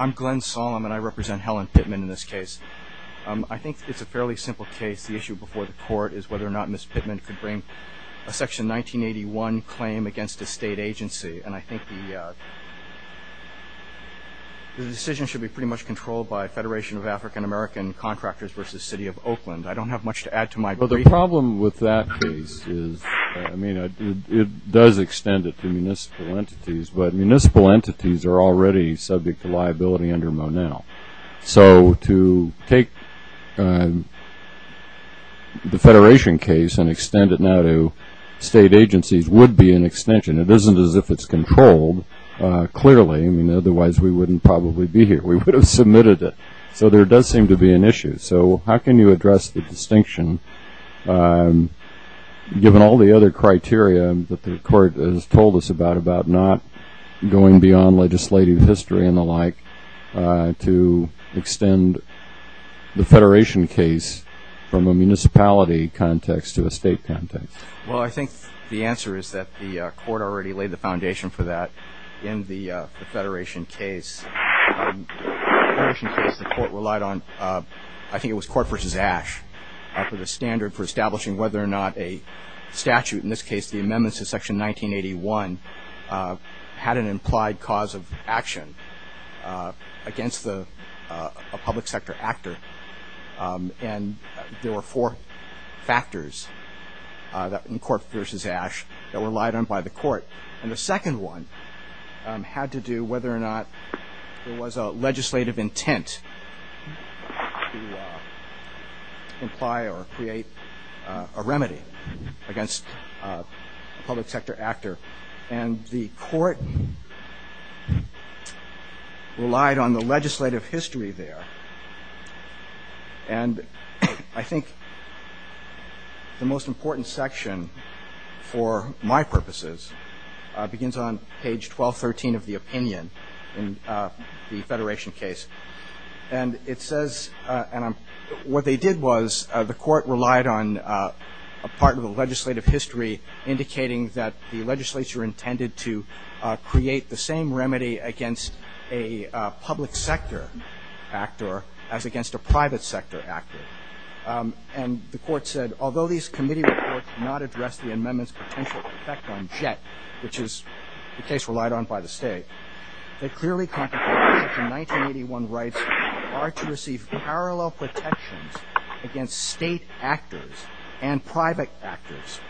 I'm Glenn Solem and I represent Helen Pittman in this case. I think it's a fairly simple case. The issue before the court is whether or not Ms. Pittman could bring a section 1981 claim against a state agency. And I think the decision should be pretty much controlled by Federation of African American Contractors v. City of Oakland. I don't have much to add to my brief. Well, the problem with that case is, I mean, it does extend it to municipal entities, but it's subject to liability under Monell. So to take the Federation case and extend it now to state agencies would be an extension. It isn't as if it's controlled, clearly. Otherwise, we wouldn't probably be here. We would have submitted it. So there does seem to be an issue. So how can you address the distinction, given all the other criteria that the court has in legislative history and the like, to extend the Federation case from a municipality context to a state context? Well, I think the answer is that the court already laid the foundation for that in the Federation case. In the Federation case, the court relied on, I think it was Court v. Ash, for the standard for establishing whether or not a statute, in this case the amendments to Section 1981, had an implied cause of action against a public sector actor. And there were four factors in Court v. Ash that were relied on by the court. And the second one had to do whether or not there was a legislative intent to imply or against a public sector actor. And the court relied on the legislative history there. And I think the most important section, for my purposes, begins on page 1213 of the opinion in the Federation case. And it says, and what they did was, the court relied on a part of the legislative history indicating that the legislature intended to create the same remedy against a public sector actor as against a private sector actor. And the court said, although these committee reports do not address the amendment's potential effect on JET, which is the case relied on by the state, they clearly contemplate that Section 1981 rights are to receive parallel protections against state actors and private actors.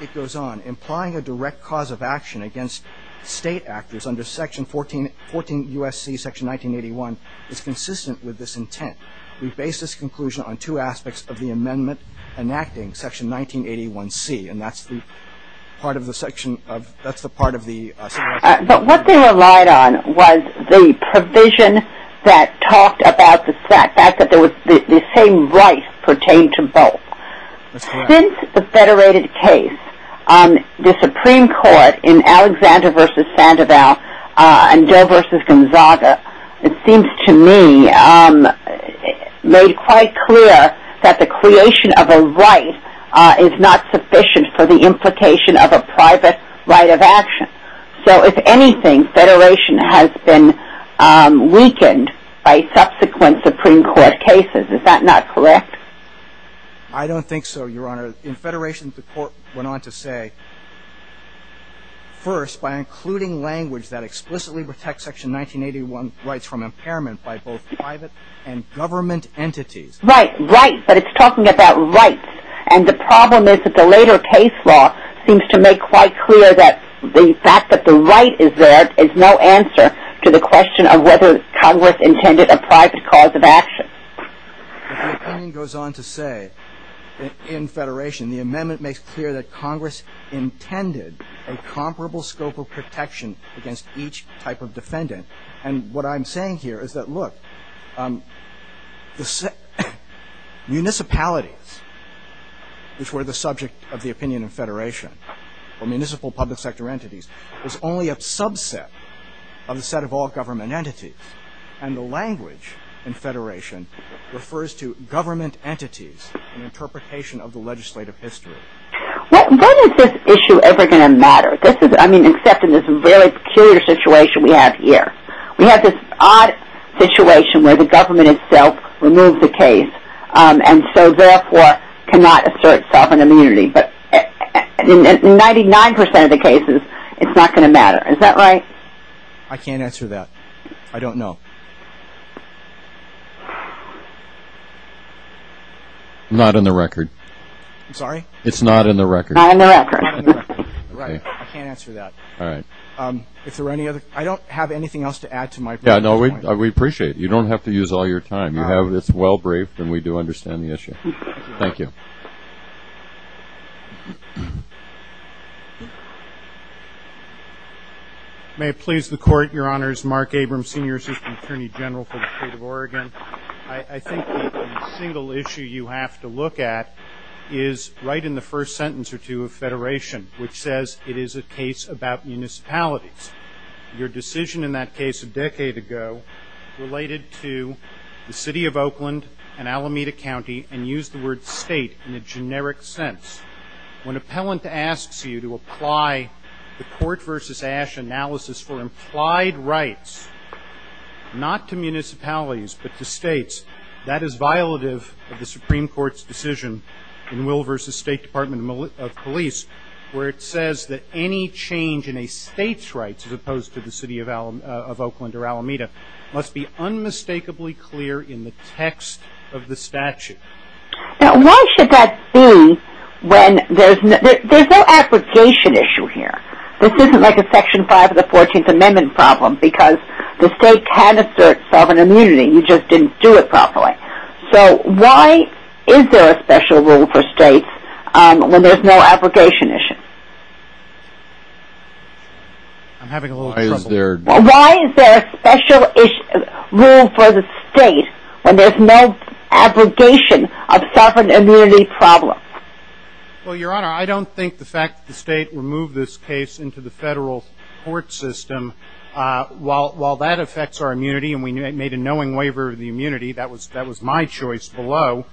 It goes on, implying a direct cause of action against state actors under Section 14 U.S.C. Section 1981 is consistent with this intent. We base this conclusion on two aspects of the amendment enacting Section 1981C. And that's the part of the section of, that's the part of the. But what they relied on was the provision that talked about the fact that the same rights pertain to both. That's correct. Since the Federated case, the Supreme Court in Alexander v. Sandoval and Joe v. Gonzaga, it seems to me made quite clear that the creation of a right is not sufficient for the implication of a private right of action. So if anything, Federation has been weakened by subsequent Supreme Court cases. Is that not correct? I don't think so, Your Honor. In Federation, the court went on to say, first, by including language that explicitly protects Section 1981 rights from impairment by both private and government entities. Right, right. But it's talking about rights. And the problem is that the later case law seems to make quite clear that the fact that the right is there is no answer to the question of whether Congress intended a private cause of action. The opinion goes on to say, in Federation, the amendment makes clear that Congress intended a comparable scope of protection against each type of defendant. And what I'm saying here is that, look, municipalities, which were the subject of the opinion in Federation, or municipal public sector entities, is only a subset of the set of all government entities. And the language in Federation refers to government entities in interpretation of the legislative history. When is this issue ever going to matter? I mean, except in this very peculiar situation we have here. We have this odd situation where the government itself removed the case, and so therefore cannot assert sovereign immunity. But in 99% of the cases, it's not going to matter. Is that right? I can't answer that. I don't know. Not on the record. I'm sorry? It's not on the record. Not on the record. Right. I can't answer that. All right. If there are any other... I don't have anything else to add to my point. Yeah, no, we appreciate it. You don't have to use all your time. You have this well-braved, and we do understand the issue. Thank you. May it please the Court, Your Honors, Mark Abrams, Senior Assistant Attorney General for the State of Oregon. I think the single issue you have to look at is right in the first sentence or two of Federation, which says it is a case about municipalities. Your decision in that case a decade ago related to the City of Oakland and Alameda County, and used the word state in a generic sense. When an appellant asks you to apply the court versus AASH analysis for implied rights, not to municipalities, but to states, that is violative of the Supreme Court's decision in Will versus State Department of Police, where it says that any change in a state's rights, as opposed to the City of Oakland or Alameda, must be unmistakably clear in the text of the statute. Now why should that be when there's no, there's no abrogation issue here. This isn't like a Section 5 of the 14th Amendment problem, because the state can assert sovereign immunity, you just didn't do it properly. So why is there a special rule for states when there's no abrogation issue? I'm having a little trouble. Why is there a special rule for the state when there's no abrogation of sovereign immunity problems? Well, Your Honor, I don't think the fact that the state removed this case into the federal court system, while that affects our immunity, and we made a knowing waiver of the immunity, that was my choice below,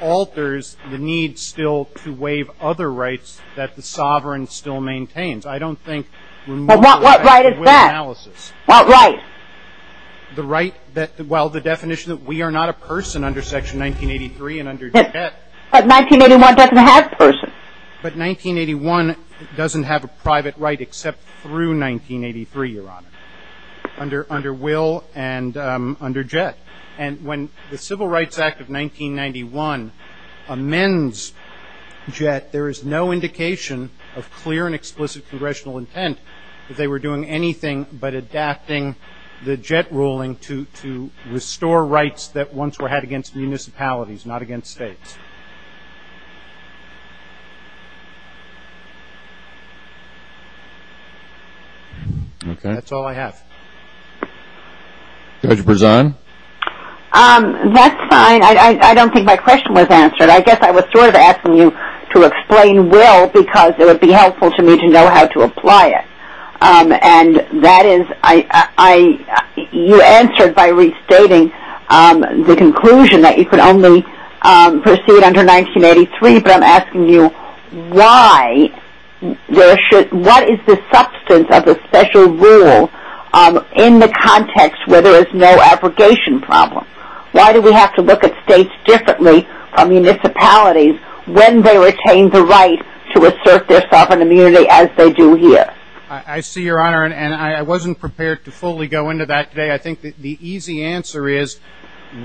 alters the need still to waive other rights that the sovereign still maintains. I don't think removing the right... Well, what right is that? What right? The right that, well, the definition that we are not a person under Section 1983 and under Jet... But 1981 doesn't have person. But 1981 doesn't have a private right except through 1983, Your Honor, under Will and under Jet. And when the Civil Rights Act of 1991 amends Jet, there is no indication of clear and explicit congressional intent that they were doing anything but adapting the Jet ruling to restore rights that once were had against municipalities, not against states. Okay. That's all I have. Judge Brezan? That's fine. I don't think my question was answered. I guess I was sort of asking you to explain Will because it would be helpful to me to know how to apply it. And that is, you answered by restating the conclusion that you could only proceed under 1983, but I'm asking you why there should, what is the substance of the special rule in the context where there is no abrogation problem? Why do we have to look at states differently from municipalities when they retain the right to assert their sovereign immunity as they do here? I see, Your Honor, and I wasn't prepared to fully go into that today. I think the easy answer is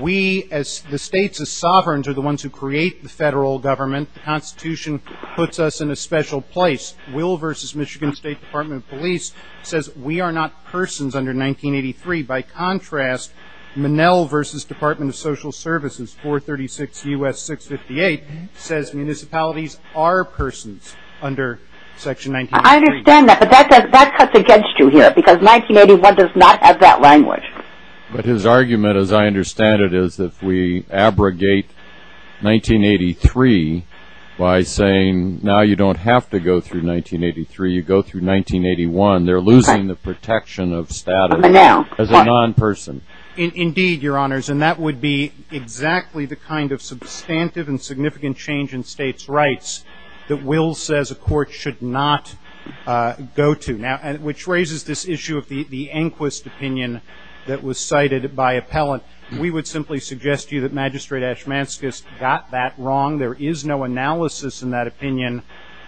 we as the states as sovereigns are the ones who create the federal government. The Constitution puts us in a special place. Will v. Michigan State Department of Police says we are not persons under 1983. By contrast, Manel v. Department of Social Services, 436 U.S. 658, says municipalities are persons under Section 1983. I understand that, but that cuts against you here because 1981 does not have that language. But his argument, as I understand it, is that if we abrogate 1983 by saying now you don't have to go through 1983, you go through 1981, they're losing the protection of status as a non-person. Indeed, Your Honors, and that would be exactly the kind of substantive and significant change in states' rights that Will says a court should not go to, which raises this issue of the Anquist opinion that was cited by appellant. We would simply suggest to you that Magistrate Ashmanskas got that wrong. There is no analysis in that opinion.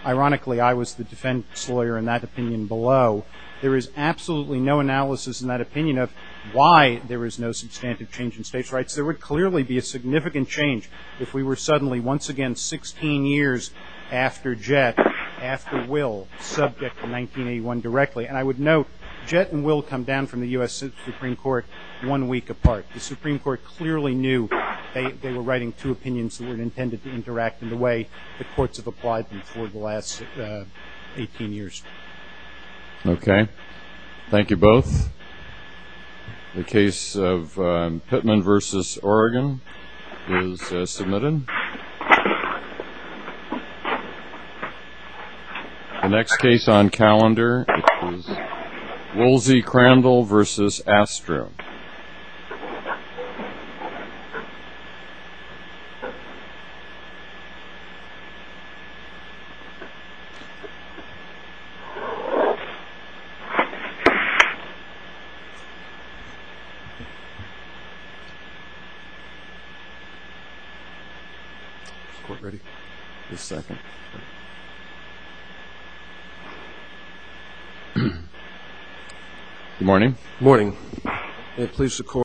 Ironically, I was the defense lawyer in that opinion below. There is absolutely no analysis in that opinion of why there is no substantive change in states' rights. There would clearly be a significant change if we were suddenly once again 16 years after Jett, after Will, subject to 1981 directly. I would note Jett and Will come down from the U.S. Supreme Court one week apart. The two of them were writing two opinions that were intended to interact in the way the courts have applied them for the last 18 years. Okay. Thank you both. The case of Pittman v. Oregon is submitted. The next case on calendar is Woolsey-Crandall v. Astrum. Is the court ready? One second. Good morning. Good morning. May it please the court